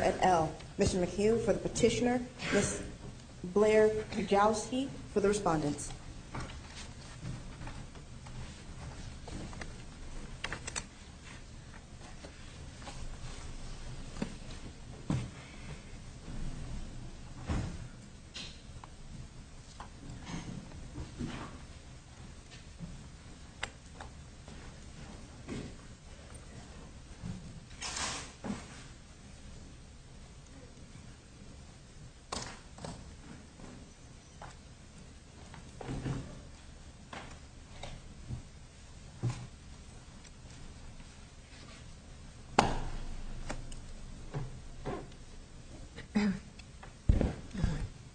et al. Mr. McHugh for the petitioner, Ms. Blair Kajowski for the respondents.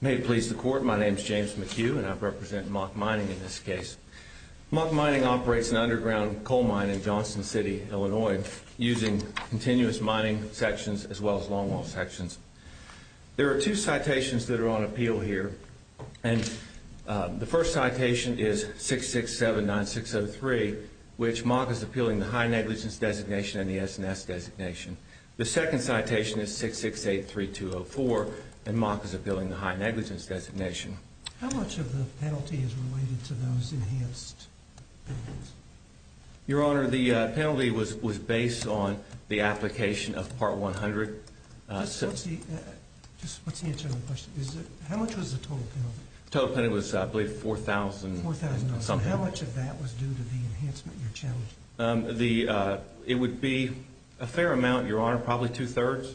May it please the Court, my name is James McHugh, and I represent Mock Mining, LLC. Mock Mining operates an underground coal mine in Johnston City, Illinois, using continuous mining sections as well as longwall sections. There are two citations that are on appeal here, and the first citation is 667-9603, which Mock is appealing the high negligence designation and the SNS designation. The second citation is 668-3204, and Mock is appealing the high negligence designation. How much of the penalty is related to those enhanced payments? Your Honor, the penalty was based on the application of Part 100. Just let's see. Just let's answer the question. How much was the total penalty? The total penalty was, I believe, $4,000. $4,000. So how much of that was due to the enhancement in your challenge? It would be a fair amount, Your Honor, probably two-thirds,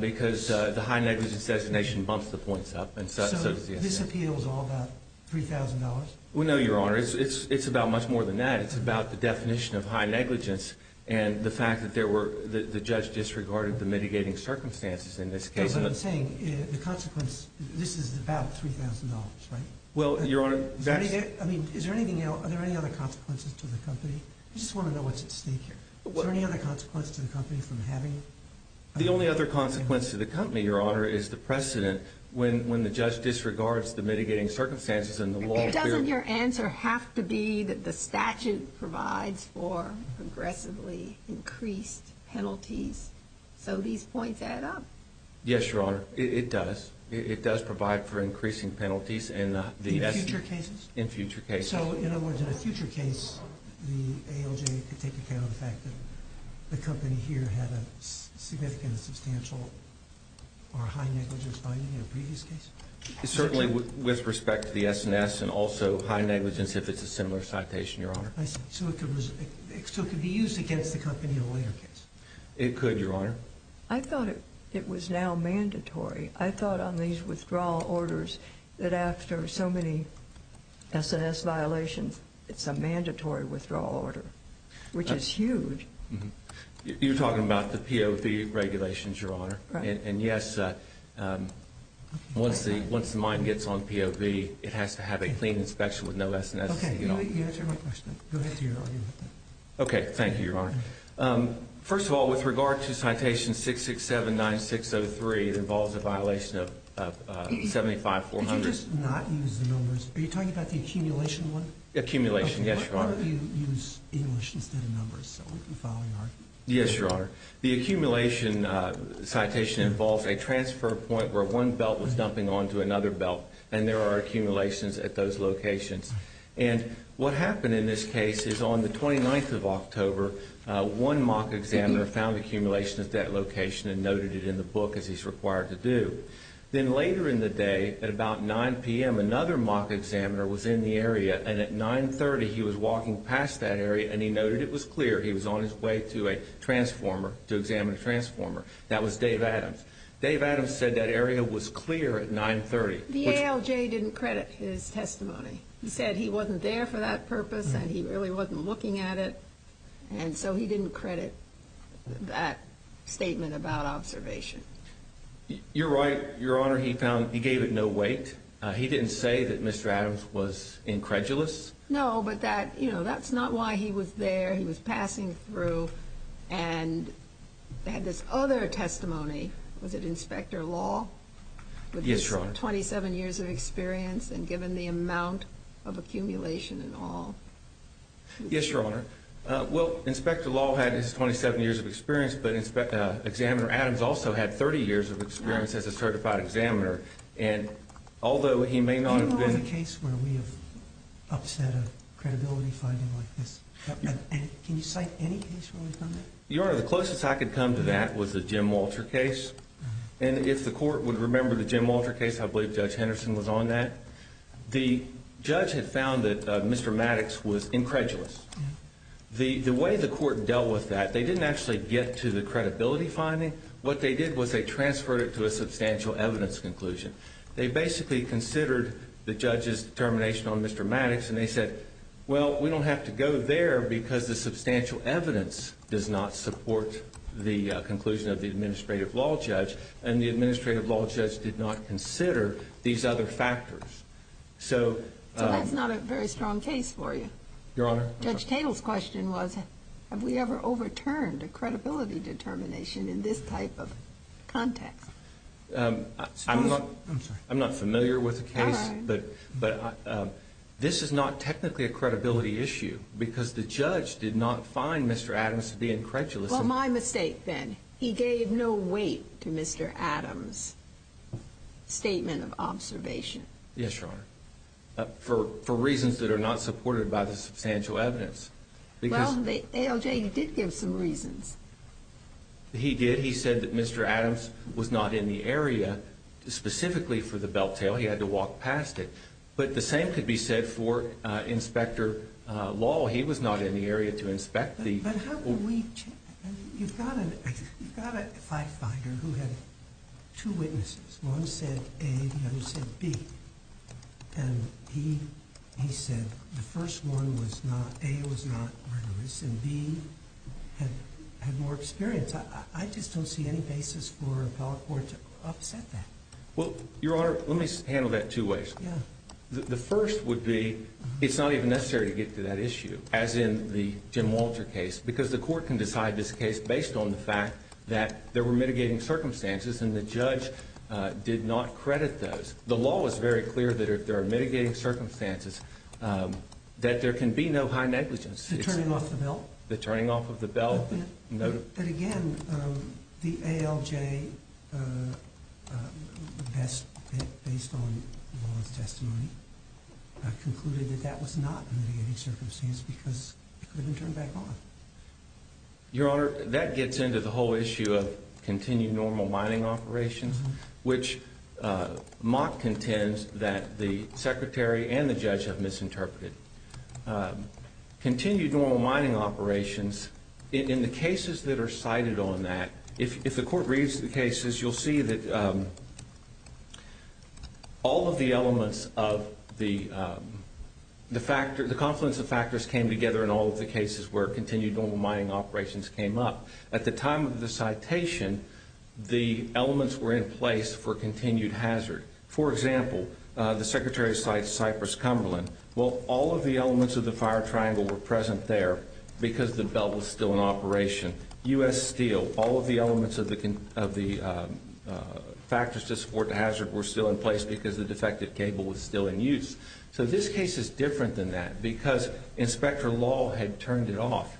because the high negligence designation bumps the points up, and so does the SNS designation. So this appeal is all about $3,000? No, Your Honor. It's about much more than that. It's about the definition of high negligence and the fact that the judge disregarded the mitigating circumstances in this case. No, but I'm saying the consequence, this is about $3,000, right? Well, Your Honor, that's I mean, is there anything else? Are there any other consequences to the company? I just want to know what's at stake here. Is there any other consequence to the company from having The only other consequence to the company, Your Honor, is the precedent when the judge disregards the mitigating circumstances in the law. Doesn't your answer have to be that the statute provides for progressively increased penalties, so these points add up? Yes, Your Honor, it does. It does provide for increasing penalties in the In future cases? In future cases. So, in other words, in a future case, the ALJ could take account of the fact that the company here had a significant and substantial or high negligence finding in a previous case? Certainly with respect to the SNS and also high negligence if it's a similar citation, Your Honor. I see. So it could be used against the company in a later case? It could, Your Honor. I thought it was now mandatory. I thought on these withdrawal orders that after so many SNS violations, it's a mandatory withdrawal order, which is huge. You're talking about the POV regulations, Your Honor. Right. And yes, once the mine gets on POV, it has to have a clean inspection with no SNS. Okay, you answered my question. Go ahead, Your Honor. Okay, thank you, Your Honor. First of all, with regard to citation 667-9603, it involves a violation of 75-400. Did you just not use the numbers? Are you talking about the accumulation one? Accumulation, yes, Your Honor. Why don't you use English instead of numbers? Yes, Your Honor. The accumulation citation involves a transfer point where one belt was dumping onto another belt and there are accumulations at those locations. And what happened in this case is on the 29th of October, one mock examiner found accumulation at that location and noted it in the book as he's required to do. Then later in the day, at about 9 p.m., another mock examiner was in the area, and at 9.30, he was walking past that area and he noted it was clear. He was on his way to a transformer to examine a transformer. That was Dave Adams. Dave Adams said that area was clear at 9.30. The ALJ didn't credit his testimony. He said he wasn't there for that purpose and he really wasn't looking at it, and so he didn't credit that statement about observation. You're right, Your Honor. He gave it no weight. He didn't say that Mr. Adams was incredulous. No, but that's not why he was there. He was passing through and had this other testimony. Was it Inspector Law? Yes, Your Honor. With 27 years of experience and given the amount of accumulation and all. Yes, Your Honor. Well, Inspector Law had his 27 years of experience, but Examiner Adams also had 30 years of experience as a certified examiner, and although he may not have been— Do you know of a case where we have upset a credibility finding like this? Can you cite any case where we've done that? Your Honor, the closest I could come to that was the Jim Walter case. And if the court would remember the Jim Walter case, I believe Judge Henderson was on that. The judge had found that Mr. Maddox was incredulous. The way the court dealt with that, they didn't actually get to the credibility finding. What they did was they transferred it to a substantial evidence conclusion. They basically considered the judge's determination on Mr. Maddox, and they said, well, we don't have to go there because the substantial evidence does not support the conclusion of the administrative law judge, and the administrative law judge did not consider these other factors. So— So that's not a very strong case for you. Your Honor— Judge Tatel's question was, have we ever overturned a credibility determination in this type of context? I'm not familiar with the case, but this is not technically a credibility issue because the judge did not find Mr. Adams to be incredulous. Well, my mistake then. He gave no weight to Mr. Adams' statement of observation. Yes, Your Honor, for reasons that are not supported by the substantial evidence. Well, ALJ did give some reasons. He did. He said that Mr. Adams was not in the area specifically for the belt tail. He had to walk past it. But the same could be said for Inspector Law. He was not in the area to inspect the— But how can we—you've got a firefighter who had two witnesses. One said A, the other said B. And he said the first one was not—A, it was not murderous, and B, had more experience. I just don't see any basis for an appellate court to upset that. Well, Your Honor, let me handle that two ways. The first would be it's not even necessary to get to that issue, as in the Jim Walter case, because the court can decide this case based on the fact that there were mitigating circumstances and the judge did not credit those. The law is very clear that if there are mitigating circumstances, that there can be no high negligence. The turning off of the belt? The turning off of the belt. But again, the ALJ, based on law's testimony, concluded that that was not a mitigating circumstance because it could have been turned back on. Your Honor, that gets into the whole issue of continued normal mining operations, which Mott contends that the Secretary and the judge have misinterpreted. Continued normal mining operations, in the cases that are cited on that, if the court reads the cases, you'll see that all of the elements of the confluence of factors came together in all of the cases where continued normal mining operations came up. At the time of the citation, the elements were in place for continued hazard. For example, the Secretary cites Cypress Cumberland. Well, all of the elements of the fire triangle were present there because the belt was still in operation. U.S. Steel, all of the elements of the factors to support the hazard were still in place because the defective cable was still in use. So this case is different than that because inspector law had turned it off.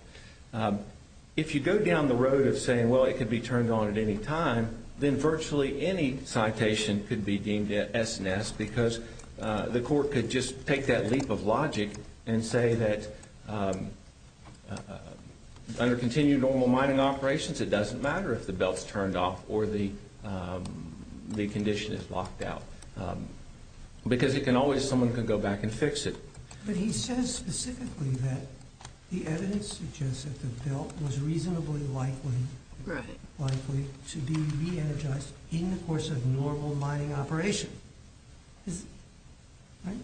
If you go down the road of saying, well, it could be turned on at any time, then virtually any citation could be deemed S and S because the court could just take that leap of logic and say that under continued normal mining operations it doesn't matter if the belt's turned off or the condition is locked out because it can always, someone can go back and fix it. But he says specifically that the evidence suggests that the belt was reasonably likely to be re-energized in the course of normal mining operation. Right?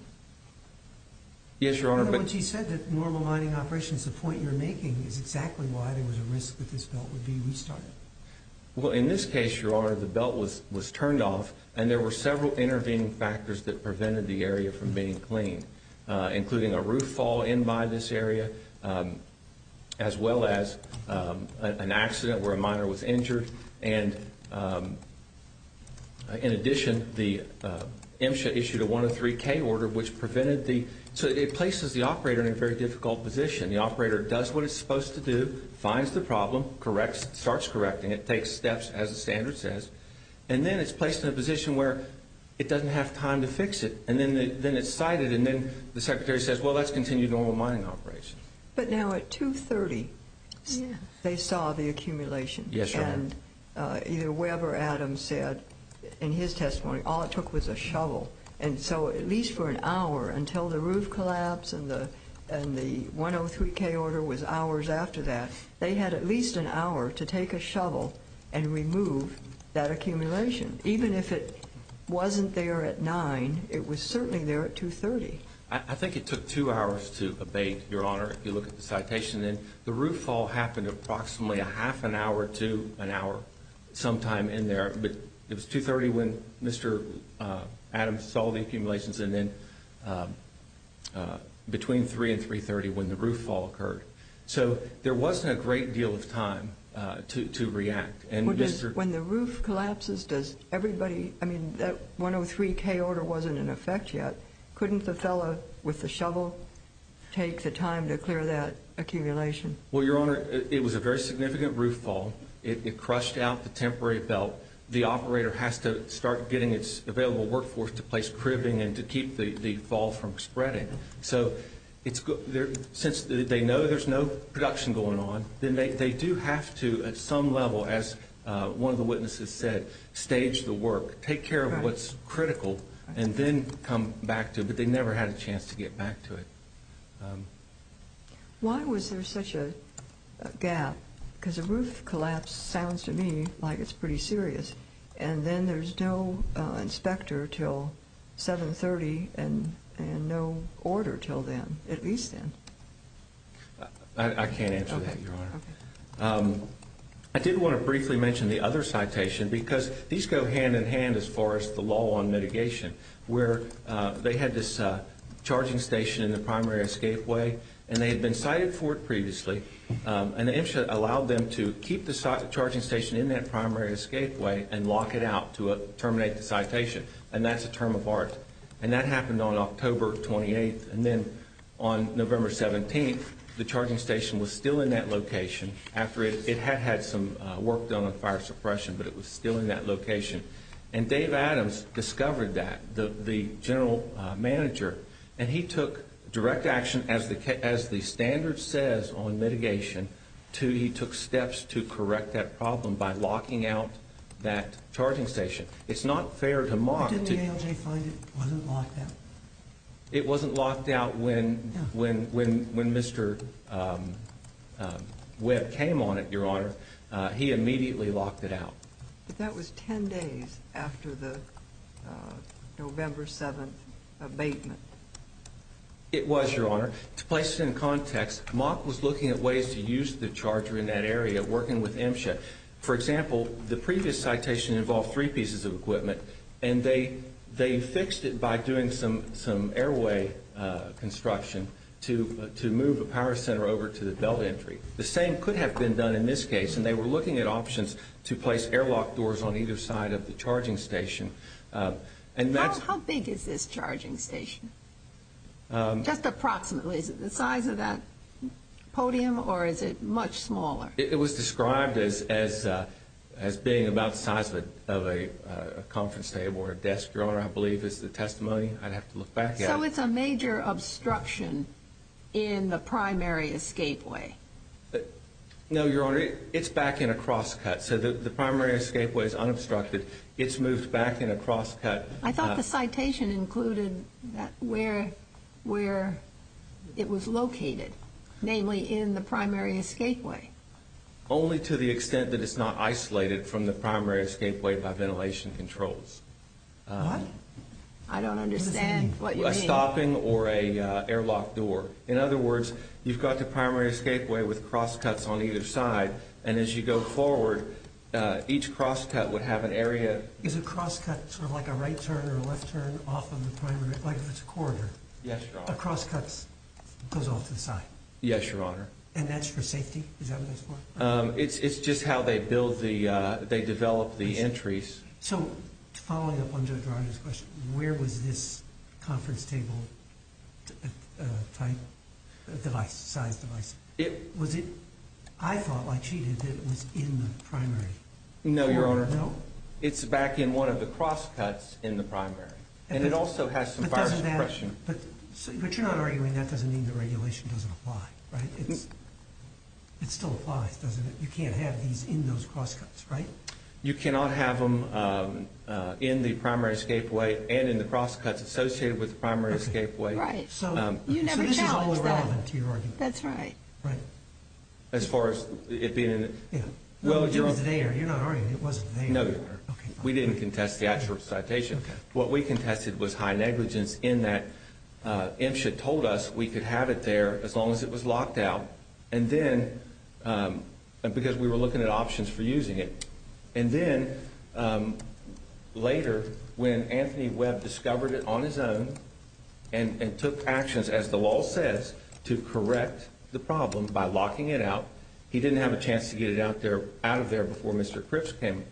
Yes, Your Honor. Once he said that normal mining operations, the point you're making is exactly why there was a risk that this belt would be restarted. Well, in this case, Your Honor, the belt was turned off and there were several intervening factors that prevented the area from being cleaned, including a roof fall in by this area as well as an accident where a miner was injured. And in addition, the MSHA issued a 103K order which prevented the, so it places the operator in a very difficult position. The operator does what it's supposed to do, finds the problem, corrects, starts correcting it, takes steps as the standard says, and then it's placed in a position where it doesn't have time to fix it. And then it's cited and then the secretary says, well, that's continued normal mining operation. But now at 2.30 they saw the accumulation. Yes, Your Honor. And either Webb or Adams said in his testimony all it took was a shovel. And so at least for an hour until the roof collapsed and the 103K order was hours after that, they had at least an hour to take a shovel and remove that accumulation. Even if it wasn't there at 9, it was certainly there at 2.30. I think it took two hours to abate, Your Honor, if you look at the citation. And the roof fall happened approximately a half an hour to an hour sometime in there. But it was 2.30 when Mr. Adams saw the accumulations and then between 3 and 3.30 when the roof fall occurred. So there wasn't a great deal of time to react. When the roof collapses, does everybody, I mean, that 103K order wasn't in effect yet. Couldn't the fellow with the shovel take the time to clear that accumulation? Well, Your Honor, it was a very significant roof fall. It crushed out the temporary belt. The operator has to start getting its available workforce to place cribbing and to keep the fall from spreading. So since they know there's no production going on, then they do have to at some level, as one of the witnesses said, stage the work, take care of what's critical and then come back to it. But they never had a chance to get back to it. Why was there such a gap? Because a roof collapse sounds to me like it's pretty serious. And then there's no inspector till 7.30 and no order till then, at least then. I can't answer that, Your Honor. I did want to briefly mention the other citation because these go hand in hand as far as the law on mitigation, where they had this charging station in the primary escapeway, and they had been cited for it previously. And the MSHA allowed them to keep the charging station in that primary escapeway and lock it out to terminate the citation, and that's a term of art. And that happened on October 28th. And then on November 17th, the charging station was still in that location. It had had some work done on fire suppression, but it was still in that location. And Dave Adams discovered that, the general manager, and he took direct action, as the standard says on mitigation, to he took steps to correct that problem by locking out that charging station. It's not fair to mock. But didn't the ALJ find it wasn't locked out? It wasn't locked out when Mr. Webb came on it, Your Honor. He immediately locked it out. But that was 10 days after the November 7th abatement. It was, Your Honor. To place it in context, Mock was looking at ways to use the charger in that area, working with MSHA. And they fixed it by doing some airway construction to move a power center over to the belt entry. The same could have been done in this case, and they were looking at options to place airlock doors on either side of the charging station. How big is this charging station? Just approximately, is it the size of that podium, or is it much smaller? It was described as being about the size of a conference table or a desk, Your Honor, I believe is the testimony. I'd have to look back at it. So it's a major obstruction in the primary escapeway. No, Your Honor, it's back in a crosscut. So the primary escapeway is unobstructed. It's moved back in a crosscut. I thought the citation included where it was located, namely in the primary escapeway. Only to the extent that it's not isolated from the primary escapeway by ventilation controls. What? I don't understand what you mean. A stopping or an airlock door. In other words, you've got the primary escapeway with crosscuts on either side, and as you go forward, each crosscut would have an area. Is a crosscut sort of like a right turn or a left turn off of the primary, like if it's a corridor? Yes, Your Honor. A crosscut goes off to the side? Yes, Your Honor. And that's for safety? Is that what that's for? It's just how they build the, they develop the entries. So following up on Judge Rodgers' question, where was this conference table type device, size device? Was it, I thought like she did, that it was in the primary? No, Your Honor. No? It's back in one of the crosscuts in the primary. And it also has some virus suppression. But you're not arguing that doesn't mean the regulation doesn't apply, right? It still applies, doesn't it? You can't have these in those crosscuts, right? You cannot have them in the primary escapeway and in the crosscuts associated with the primary escapeway. Right. So this is all irrelevant to your argument. That's right. Right. As far as it being in it? Yeah. You're not arguing it wasn't there. No, Your Honor. We didn't contest the actual citation. What we contested was high negligence in that MSHA told us we could have it there as long as it was locked out. And then, because we were looking at options for using it. And then later when Anthony Webb discovered it on his own and took actions, as the law says, to correct the problem by locking it out, he didn't have a chance to get it out of there before Mr. Cripps came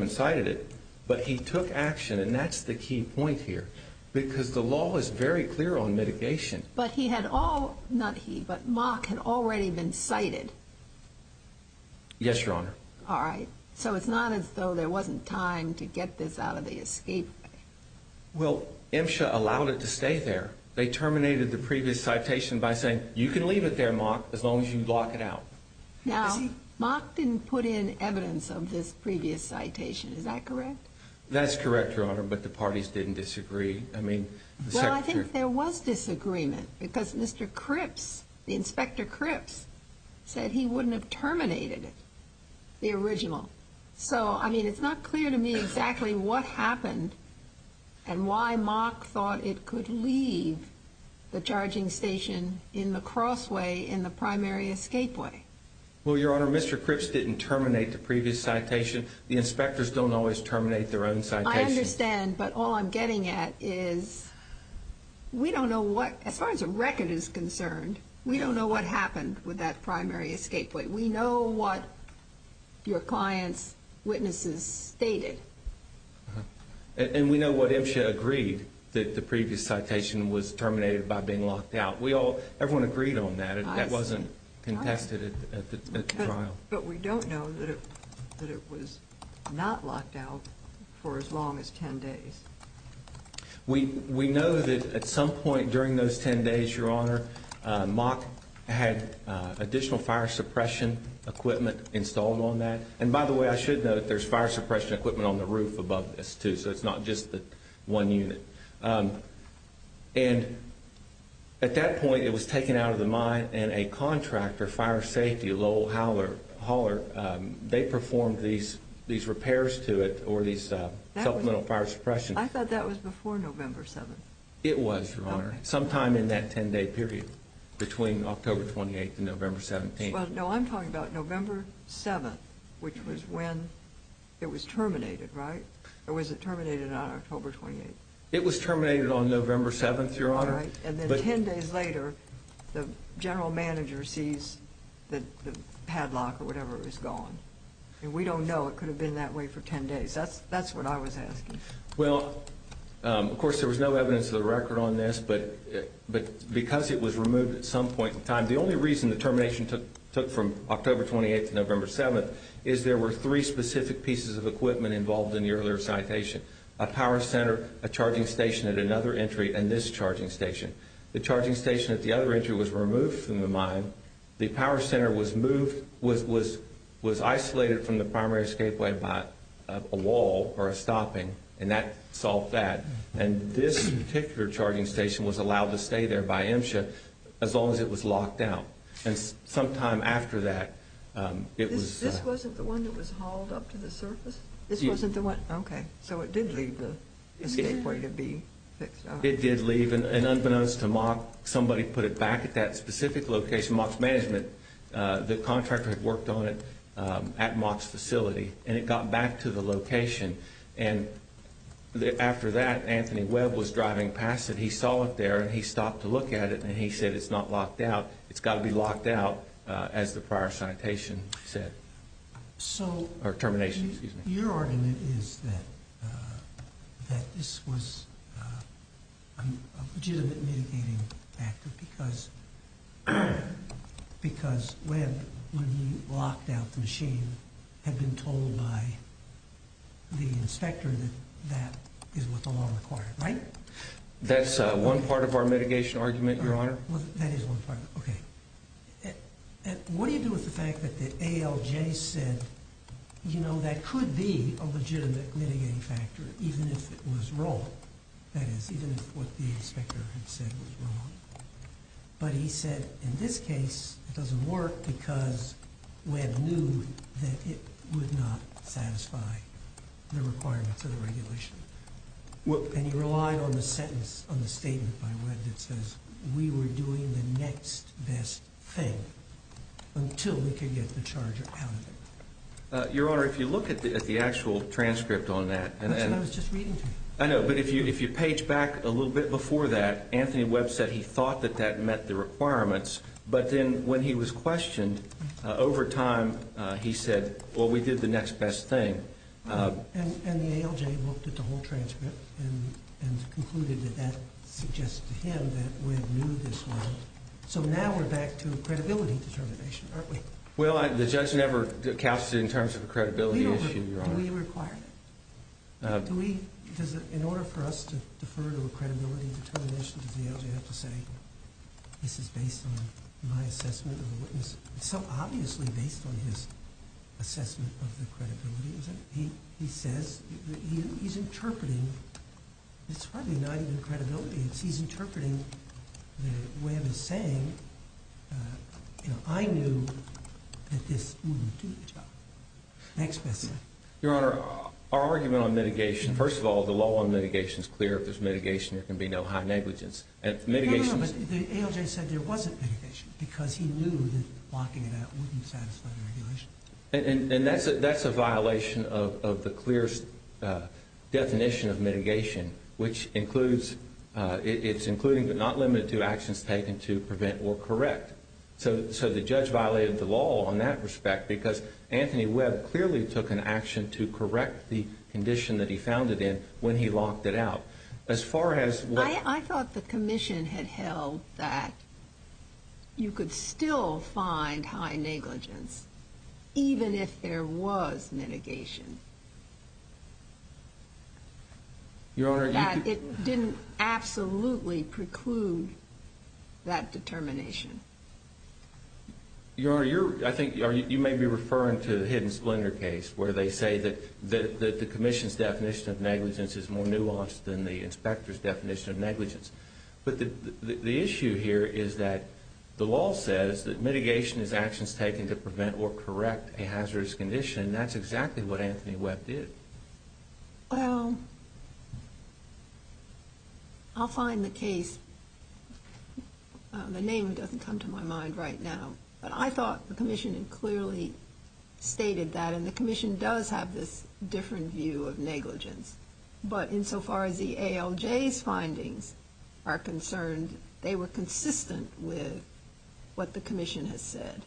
and cited it. But he took action, and that's the key point here. Because the law is very clear on mitigation. But he had all, not he, but Mock had already been cited. Yes, Your Honor. All right. So it's not as though there wasn't time to get this out of the escapeway. Well, MSHA allowed it to stay there. They terminated the previous citation by saying, you can leave it there, Mock, as long as you lock it out. Now, Mock didn't put in evidence of this previous citation. Is that correct? That's correct, Your Honor. But the parties didn't disagree. I mean, the Secretary. Well, I think there was disagreement. Because Mr. Cripps, Inspector Cripps, said he wouldn't have terminated it, the original. So, I mean, it's not clear to me exactly what happened and why Mock thought it could leave the charging station in the crossway in the primary escapeway. Well, Your Honor, Mr. Cripps didn't terminate the previous citation. The inspectors don't always terminate their own citations. I understand. But all I'm getting at is we don't know what, as far as the record is concerned, we don't know what happened with that primary escapeway. We know what your client's witnesses stated. And we know what MSHA agreed, that the previous citation was terminated by being locked out. Everyone agreed on that. It wasn't contested at the trial. But we don't know that it was not locked out for as long as 10 days. We know that at some point during those 10 days, Your Honor, Mock had additional fire suppression equipment installed on that. And, by the way, I should note that there's fire suppression equipment on the roof above this, too, so it's not just the one unit. And at that point, it was taken out of the mine. And a contractor, fire safety, Lowell Holler, they performed these repairs to it or these supplemental fire suppression. I thought that was before November 7th. It was, Your Honor, sometime in that 10-day period between October 28th and November 17th. Well, no, I'm talking about November 7th, which was when it was terminated, right? Or was it terminated on October 28th? And then 10 days later, the general manager sees the padlock or whatever is gone. And we don't know. It could have been that way for 10 days. That's what I was asking. Well, of course, there was no evidence of the record on this, but because it was removed at some point in time, the only reason the termination took from October 28th to November 7th is there were three specific pieces of equipment involved in the earlier citation, a power center, a charging station at another entry, and this charging station. The charging station at the other entry was removed from the mine. The power center was moved, was isolated from the primary escapeway by a wall or a stopping, and that solved that. And this particular charging station was allowed to stay there by MSHA as long as it was locked down. And sometime after that, it was – This wasn't the one that was hauled up to the surface? Yes. This wasn't the one? Okay. So it did leave the escapeway to be fixed up. It did leave. And unbeknownst to MOC, somebody put it back at that specific location, MOC's management. The contractor had worked on it at MOC's facility, and it got back to the location. And after that, Anthony Webb was driving past it. He saw it there, and he stopped to look at it, and he said it's not locked out. It's got to be locked out, as the prior citation said, or termination. Your argument is that this was a legitimate mitigating factor because Webb, when he locked out the machine, had been told by the inspector that that is what the law required, right? That's one part of our mitigation argument, Your Honor. That is one part. Okay. What do you do with the fact that the ALJ said, you know, that could be a legitimate mitigating factor, even if it was wrong? That is, even if what the inspector had said was wrong. But he said, in this case, it doesn't work because Webb knew that it would not satisfy the requirements of the regulation. And you rely on the sentence, on the statement by Webb that says, we were doing the next best thing until we could get the charger out of it. Your Honor, if you look at the actual transcript on that. That's what I was just reading to you. I know, but if you page back a little bit before that, Anthony Webb said he thought that that met the requirements, but then when he was questioned, over time he said, well, we did the next best thing. And the ALJ looked at the whole transcript and concluded that that suggests to him that Webb knew this was wrong. So now we're back to credibility determination, aren't we? Well, the judge never cast it in terms of a credibility issue, Your Honor. Do we require that? In order for us to defer to a credibility determination, does the ALJ have to say, this is based on my assessment of a witness? It's so obviously based on his assessment of the credibility, isn't it? He says, he's interpreting, it's probably not even credibility. He's interpreting that Webb is saying, you know, I knew that this wouldn't do the job. Next best thing. Your Honor, our argument on mitigation, first of all, the law on mitigation is clear. If there's mitigation, there can be no high negligence. But the ALJ said there wasn't mitigation because he knew that locking it out wouldn't satisfy the regulation. And that's a violation of the clear definition of mitigation, which includes, it's including but not limited to actions taken to prevent or correct. So the judge violated the law on that respect because Anthony Webb clearly took an action to correct the condition that he found it in when he locked it out. I thought the commission had held that you could still find high negligence even if there was mitigation. It didn't absolutely preclude that determination. Your Honor, I think you may be referring to the Hidden Splendor case where they say that the commission's definition of negligence is more nuanced than the inspector's definition of negligence. But the issue here is that the law says that mitigation is actions taken to prevent or correct a hazardous condition, and that's exactly what Anthony Webb did. Well, I'll find the case. The name doesn't come to my mind right now, but I thought the commission had clearly stated that. And the commission does have this different view of negligence. But insofar as the ALJ's findings are concerned, they were consistent with what the commission has said.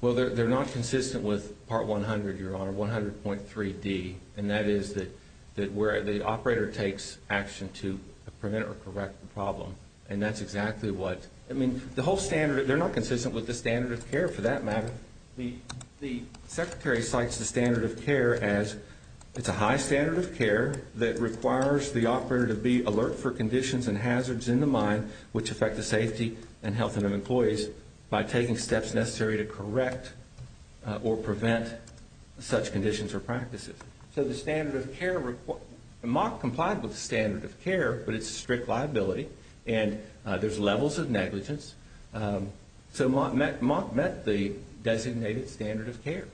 Well, they're not consistent with Part 100, Your Honor, 100.3D. And that is that where the operator takes action to prevent or correct the problem. And that's exactly what – I mean, the whole standard – they're not consistent with the standard of care for that matter. The Secretary cites the standard of care as it's a high standard of care that requires the operator to be alert for conditions and hazards in the mine which affect the safety and health of employees by taking steps necessary to correct or prevent such conditions or practices. So the standard of care – MOC complied with the standard of care, but it's a strict liability, and there's levels of negligence. So MOC met the designated standard of care.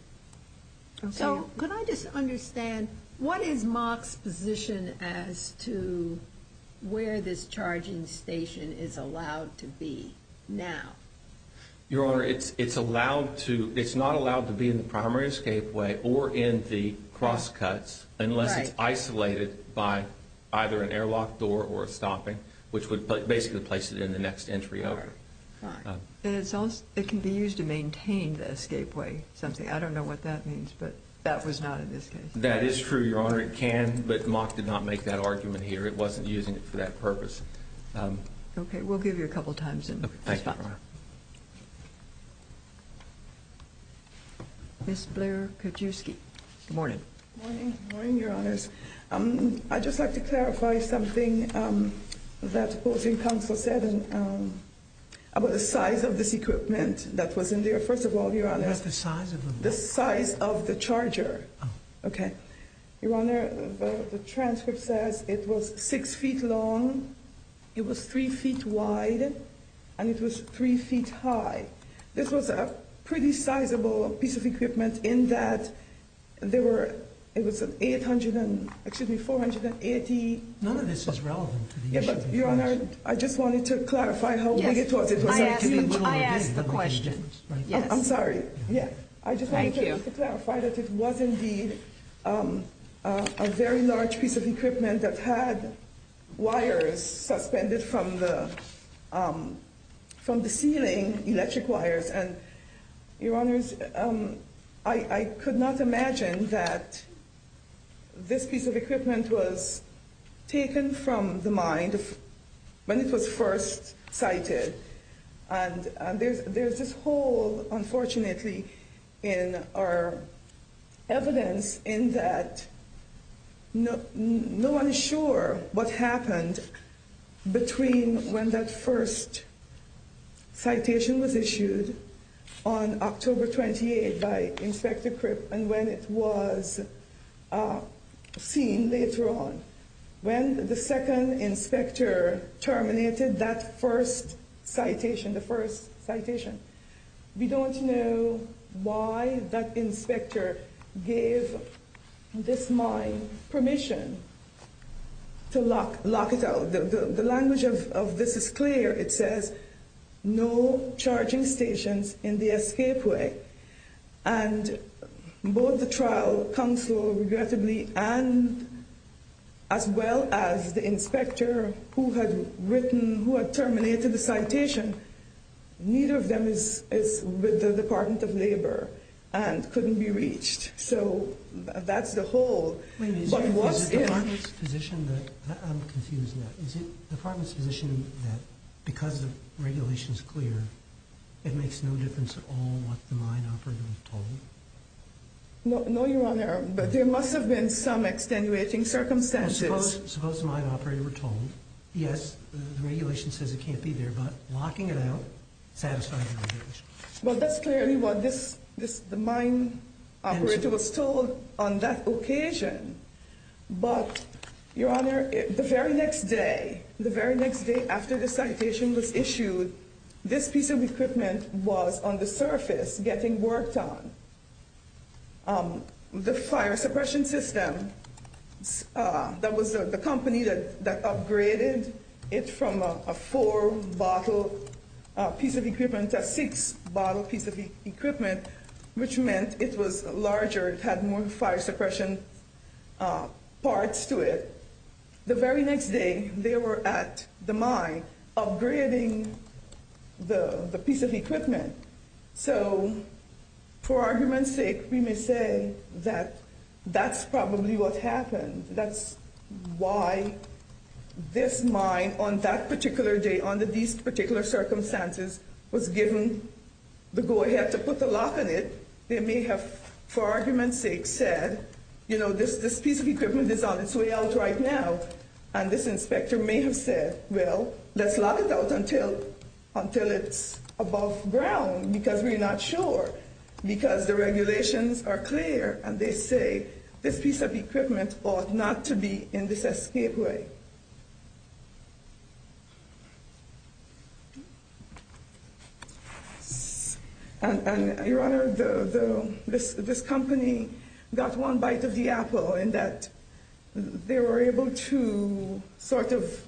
So could I just understand, what is MOC's position as to where this charging station is allowed to be now? Your Honor, it's allowed to – it's not allowed to be in the primary escapeway or in the cross cuts unless it's isolated by either an airlock door or a stopping, which would basically place it in the next entry over. All right. Fine. And it's also – it can be used to maintain the escapeway, something. I don't know what that means, but that was not in this case. That is true, Your Honor. It can, but MOC did not make that argument here. It wasn't using it for that purpose. Okay. We'll give you a couple times in response. Okay. Thank you, Your Honor. Ms. Blair-Kijewski. Good morning. Good morning. Good morning, Your Honors. I'd just like to clarify something that the opposing counsel said about the size of this equipment that was in there. First of all, Your Honor – What's the size of the – The size of the charger. Oh. Okay. Your Honor, the transcript says it was 6 feet long, it was 3 feet wide, and it was 3 feet high. This was a pretty sizable piece of equipment in that there were – it was an 800 – excuse me, 480 – None of this is relevant to the issue of the question. Your Honor, I just wanted to clarify how big it was. Yes. I asked the question. I'm sorry. Yes. Thank you. I just wanted to clarify that it was indeed a very large piece of equipment that had wires suspended from the ceiling, electric wires. And, Your Honors, I could not imagine that this piece of equipment was taken from the mine when it was first sighted. And there's this hole, unfortunately, in our evidence in that no one is sure what happened between when that first citation was issued on October 28 by Inspector Cripp and when it was seen later on. When the second inspector terminated that first citation, the first citation, we don't know why that inspector gave this mine permission to lock it out. The language of this is clear. It says, no charging stations in the escapeway. And both the trial counsel, regrettably, and as well as the inspector who had written, who had terminated the citation, neither of them is with the Department of Labor and couldn't be reached. So that's the hole. I'm confused now. Is it the department's position that because the regulation is clear, it makes no difference at all what the mine operator was told? No, Your Honor. But there must have been some extenuating circumstances. Suppose the mine operator were told, yes, the regulation says it can't be there, but locking it out satisfies the regulation. Well, that's clearly what the mine operator was told on that occasion. But, Your Honor, the very next day, the very next day after the citation was issued, this piece of equipment was on the surface getting worked on. The fire suppression system, that was the company that upgraded it from a four-bottle piece of equipment to a six-bottle piece of equipment, which meant it was larger. It had more fire suppression parts to it. The very next day, they were at the mine upgrading the piece of equipment. So, for argument's sake, we may say that that's probably what happened. That's why this mine, on that particular day, under these particular circumstances, was given the go-ahead to put the lock on it. They may have, for argument's sake, said, you know, this piece of equipment is on its way out right now. And this inspector may have said, well, let's lock it out until it's above ground, because we're not sure. Because the regulations are clear, and they say this piece of equipment ought not to be in this escapeway. And, Your Honor, this company got one bite of the apple in that they were able to sort of,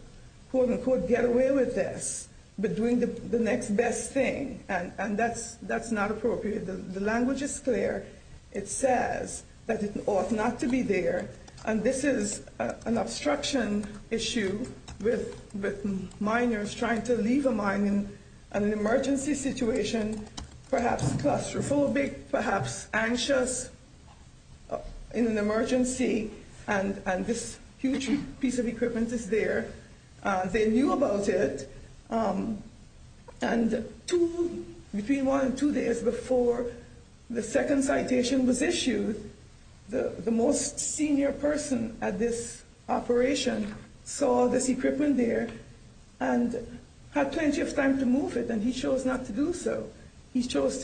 quote, unquote, get away with this, but doing the next best thing. And that's not appropriate. The language is clear. It says that it ought not to be there. And this is an obstruction issue with miners trying to leave a mine in an emergency situation, perhaps claustrophobic, perhaps anxious in an emergency. And this huge piece of equipment is there. They knew about it. And between one and two days before the second citation was issued, the most senior person at this operation saw this equipment there and had plenty of time to move it. And he chose not to do so. He chose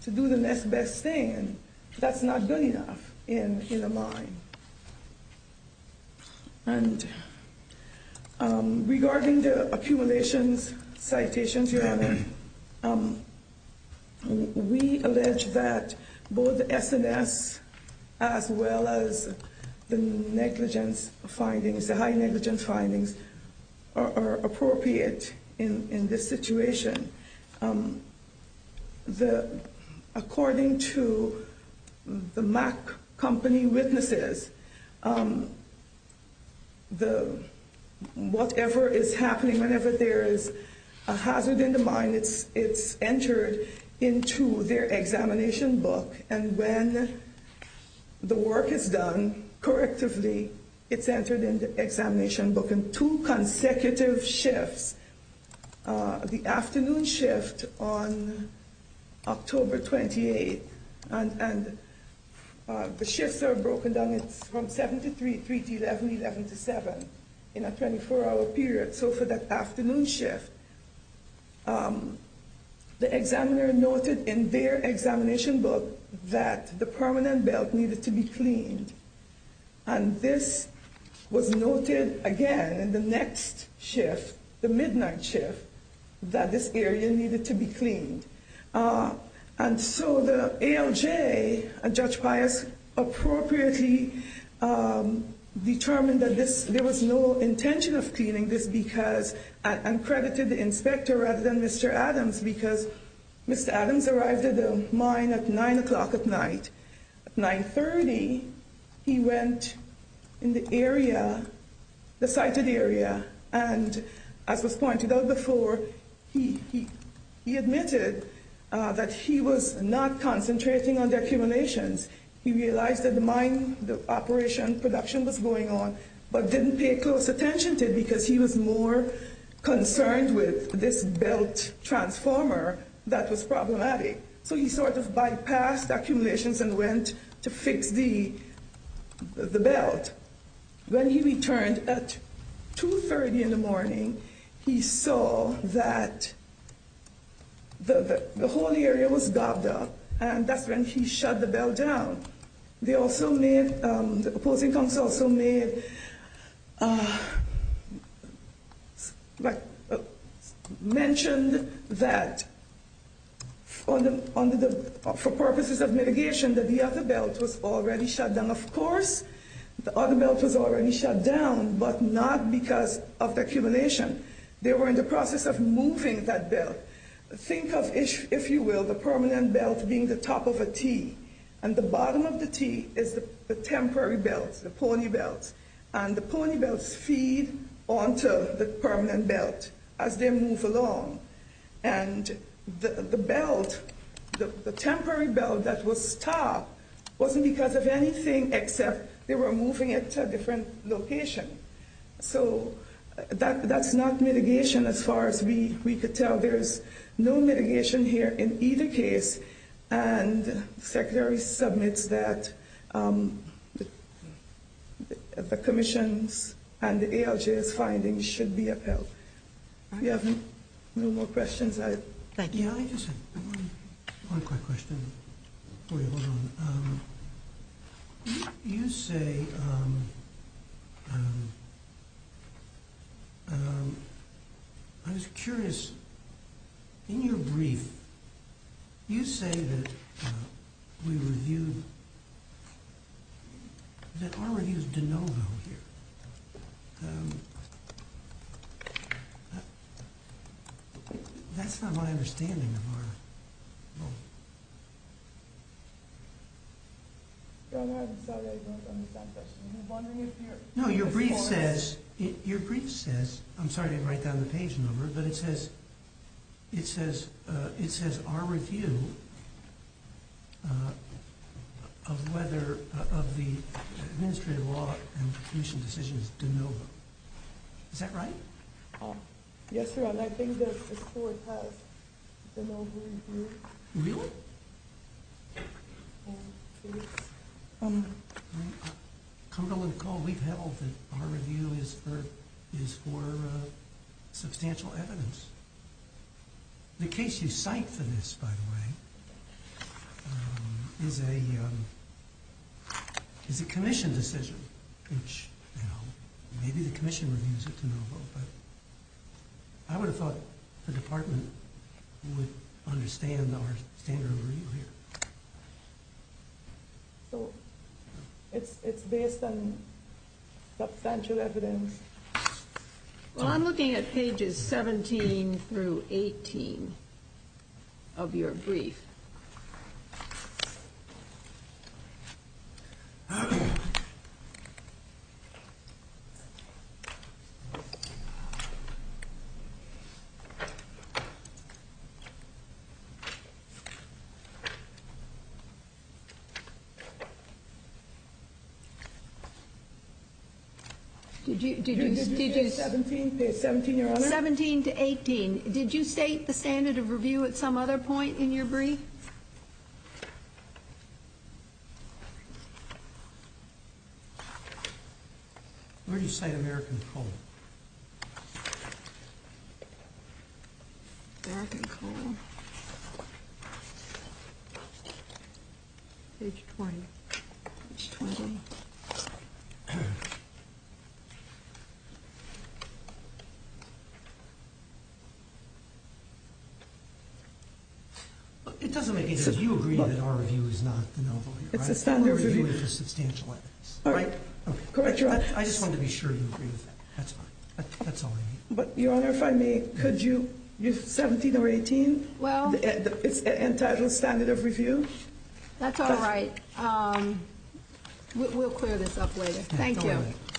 to do the next best thing. That's not good enough in a mine. And regarding the accumulations, citations, Your Honor, we allege that both the SNS as well as the negligence findings, the high negligence findings, are appropriate in this situation. According to the Mack Company witnesses, whatever is happening, whenever there is a hazard in the mine, it's entered into their examination book. And when the work is done correctively, it's entered in the examination book. And there are two consecutive shifts. The afternoon shift on October 28th. And the shifts are broken down from 7 to 3, 3 to 11, 11 to 7 in a 24-hour period. So for that afternoon shift, the examiner noted in their examination book that the permanent belt needed to be cleaned. And this was noted again in the next shift, the midnight shift, that this area needed to be cleaned. And so the ALJ and Judge Pius appropriately determined that there was no intention of cleaning this because, and credited the inspector rather than Mr. Adams, because Mr. Adams arrived at the mine at 9 o'clock at night. At 9.30, he went in the area, the sited area, and as was pointed out before, he admitted that he was not concentrating on the accumulations. He realized that the mine, the operation, production was going on, but didn't pay close attention to it because he was more concerned with this belt transformer that was problematic. So he sort of bypassed accumulations and went to fix the belt. When he returned at 2.30 in the morning, he saw that the whole area was gobbed up, and that's when he shut the belt down. The opposing counsel also mentioned that, for purposes of mitigation, that the other belt was already shut down. Of course, the other belt was already shut down, but not because of the accumulation. They were in the process of moving that belt. Think of, if you will, the permanent belt being the top of a T, and the bottom of the T is the temporary belt, the pony belt, and the pony belts feed onto the permanent belt as they move along. And the belt, the temporary belt that was stopped, wasn't because of anything except they were moving it to a different location. So that's not mitigation as far as we could tell. There's no mitigation here in either case, and the Secretary submits that the Commission's and the ALJ's findings should be upheld. If you have no more questions, I... You know, I just have one quick question for you. Hold on. You say, I was curious, in your brief, you say that we reviewed, that our review is de novo here. That's not my understanding of our... I'm sorry, I don't understand the question. I'm wondering if you're... No, your brief says, your brief says, I'm sorry to write down the page number, but it says, it says, it says our review of whether, of the administrative law and the Commission's decision is de novo. Is that right? Yes, sir, and I think that the Court has de novo reviewed. Really? Yes. Well, no. We've held that our review is for substantial evidence. The case you cite for this, by the way, is a Commission decision. Which, you know, maybe the Commission reviews it de novo, but I would have thought the Department would understand our standard of review here. So, it's based on substantial evidence? Well, I'm looking at pages 17 through 18 of your brief. Did you state the standard of review at some other point in your brief? Where do you cite American Coal? American Coal. Page 20. Page 20. It doesn't make any sense. You agree that our review is not de novo here, right? It's a standard review. Our review is for substantial evidence. All right. I just wanted to be sure you agreed with that. That's all I need. Your Honor, if I may, could you, you're 17 or 18? Well... And title standard of review? That's all right. We'll clear this up later. Thank you.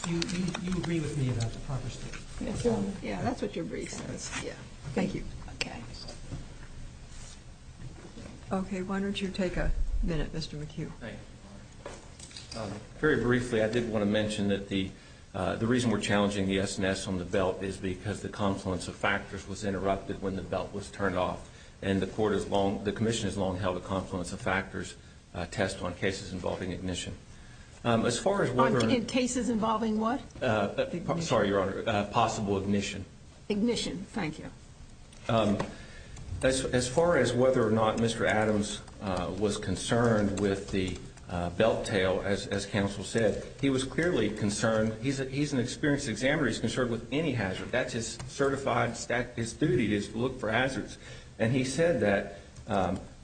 You agree with me about the proper standard of review? Yeah, that's what your brief says. Thank you. Okay. Okay, why don't you take a minute, Mr. McHugh. Thank you, Your Honor. Very briefly, I did want to mention that the reason we're challenging the S&S on the belt is because the confluence of factors was interrupted when the belt was turned off. And the commission has long held the confluence of factors test on cases involving ignition. On cases involving what? Sorry, Your Honor. Possible ignition. Ignition. Thank you. As far as whether or not Mr. Adams was concerned with the belt tail, as counsel said, he was clearly concerned. He's an experienced examiner. He's concerned with any hazard. That's his certified, his duty is to look for hazards. And he said that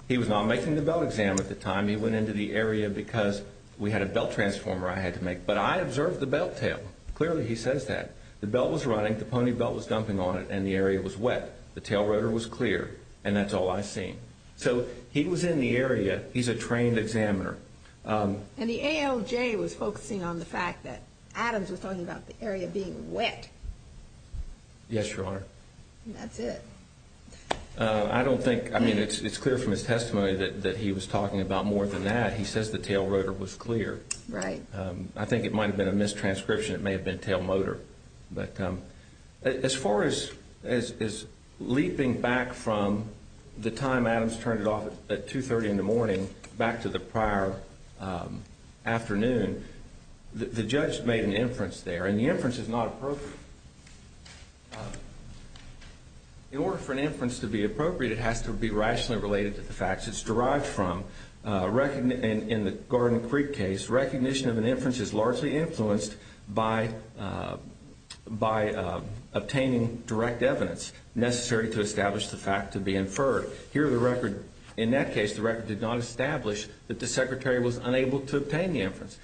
he was not making the belt exam at the time. He went into the area because we had a belt transformer I had to make. But I observed the belt tail. Clearly he says that. The belt was running, the pony belt was dumping on it, and the area was wet. The tail rotor was clear, and that's all I've seen. So he was in the area. He's a trained examiner. And the ALJ was focusing on the fact that Adams was talking about the area being wet. Yes, Your Honor. That's it. I don't think, I mean, it's clear from his testimony that he was talking about more than that. He says the tail rotor was clear. Right. I think it might have been a mistranscription. It may have been tail motor. But as far as leaping back from the time Adams turned it off at 2.30 in the morning back to the prior afternoon, the judge made an inference there, and the inference is not appropriate. In order for an inference to be appropriate, it has to be rationally related to the facts it's derived from. In the Garden Creek case, recognition of an inference is largely influenced by obtaining direct evidence necessary to establish the fact to be inferred. In that case, the record did not establish that the secretary was unable to obtain the evidence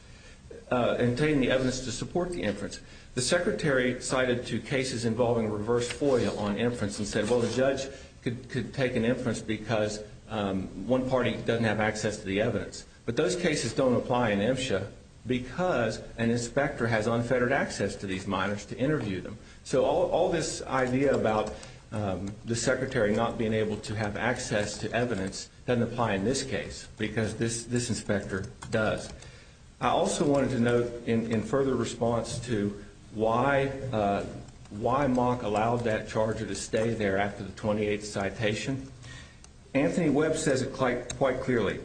to support the inference. The secretary cited two cases involving a reverse FOIA on inference and said, well, the judge could take an inference because one party doesn't have access to the evidence. But those cases don't apply in MSHA because an inspector has unfettered access to these minors to interview them. So all this idea about the secretary not being able to have access to evidence doesn't apply in this case because this inspector does. I also wanted to note in further response to why Mock allowed that charger to stay there after the 28th citation, Anthony Webb says it quite clearly.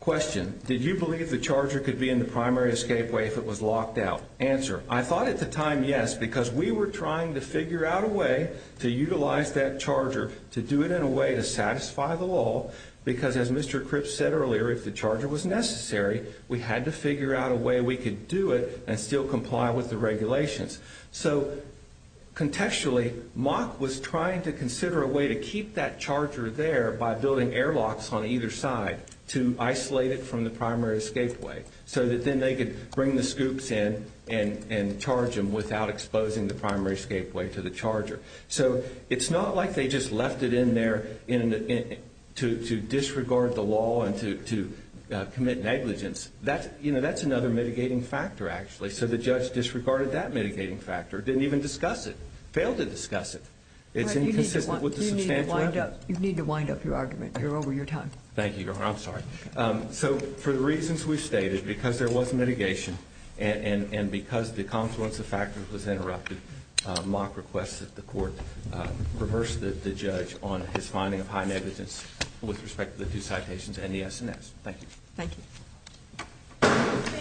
Question, did you believe the charger could be in the primary escape way if it was locked out? Answer, I thought at the time, yes, because we were trying to figure out a way to utilize that charger, to do it in a way to satisfy the law, because as Mr. Cripps said earlier, if the charger was necessary, we had to figure out a way we could do it and still comply with the regulations. So contextually, Mock was trying to consider a way to keep that charger there by building airlocks on either side to isolate it from the primary escape way so that then they could bring the scoops in and charge them without exposing the primary escape way to the charger. So it's not like they just left it in there to disregard the law and to commit negligence. That's another mitigating factor, actually. So the judge disregarded that mitigating factor, didn't even discuss it, failed to discuss it. It's inconsistent with the substantial evidence. You need to wind up your argument. You're over your time. Thank you, Your Honor. I'm sorry. So for the reasons we've stated, because there was mitigation and because the confluence of factors was interrupted, Mock requests that the court reverse the judge on his finding of high negligence with respect to the two citations and the S&S. Thank you. Thank you.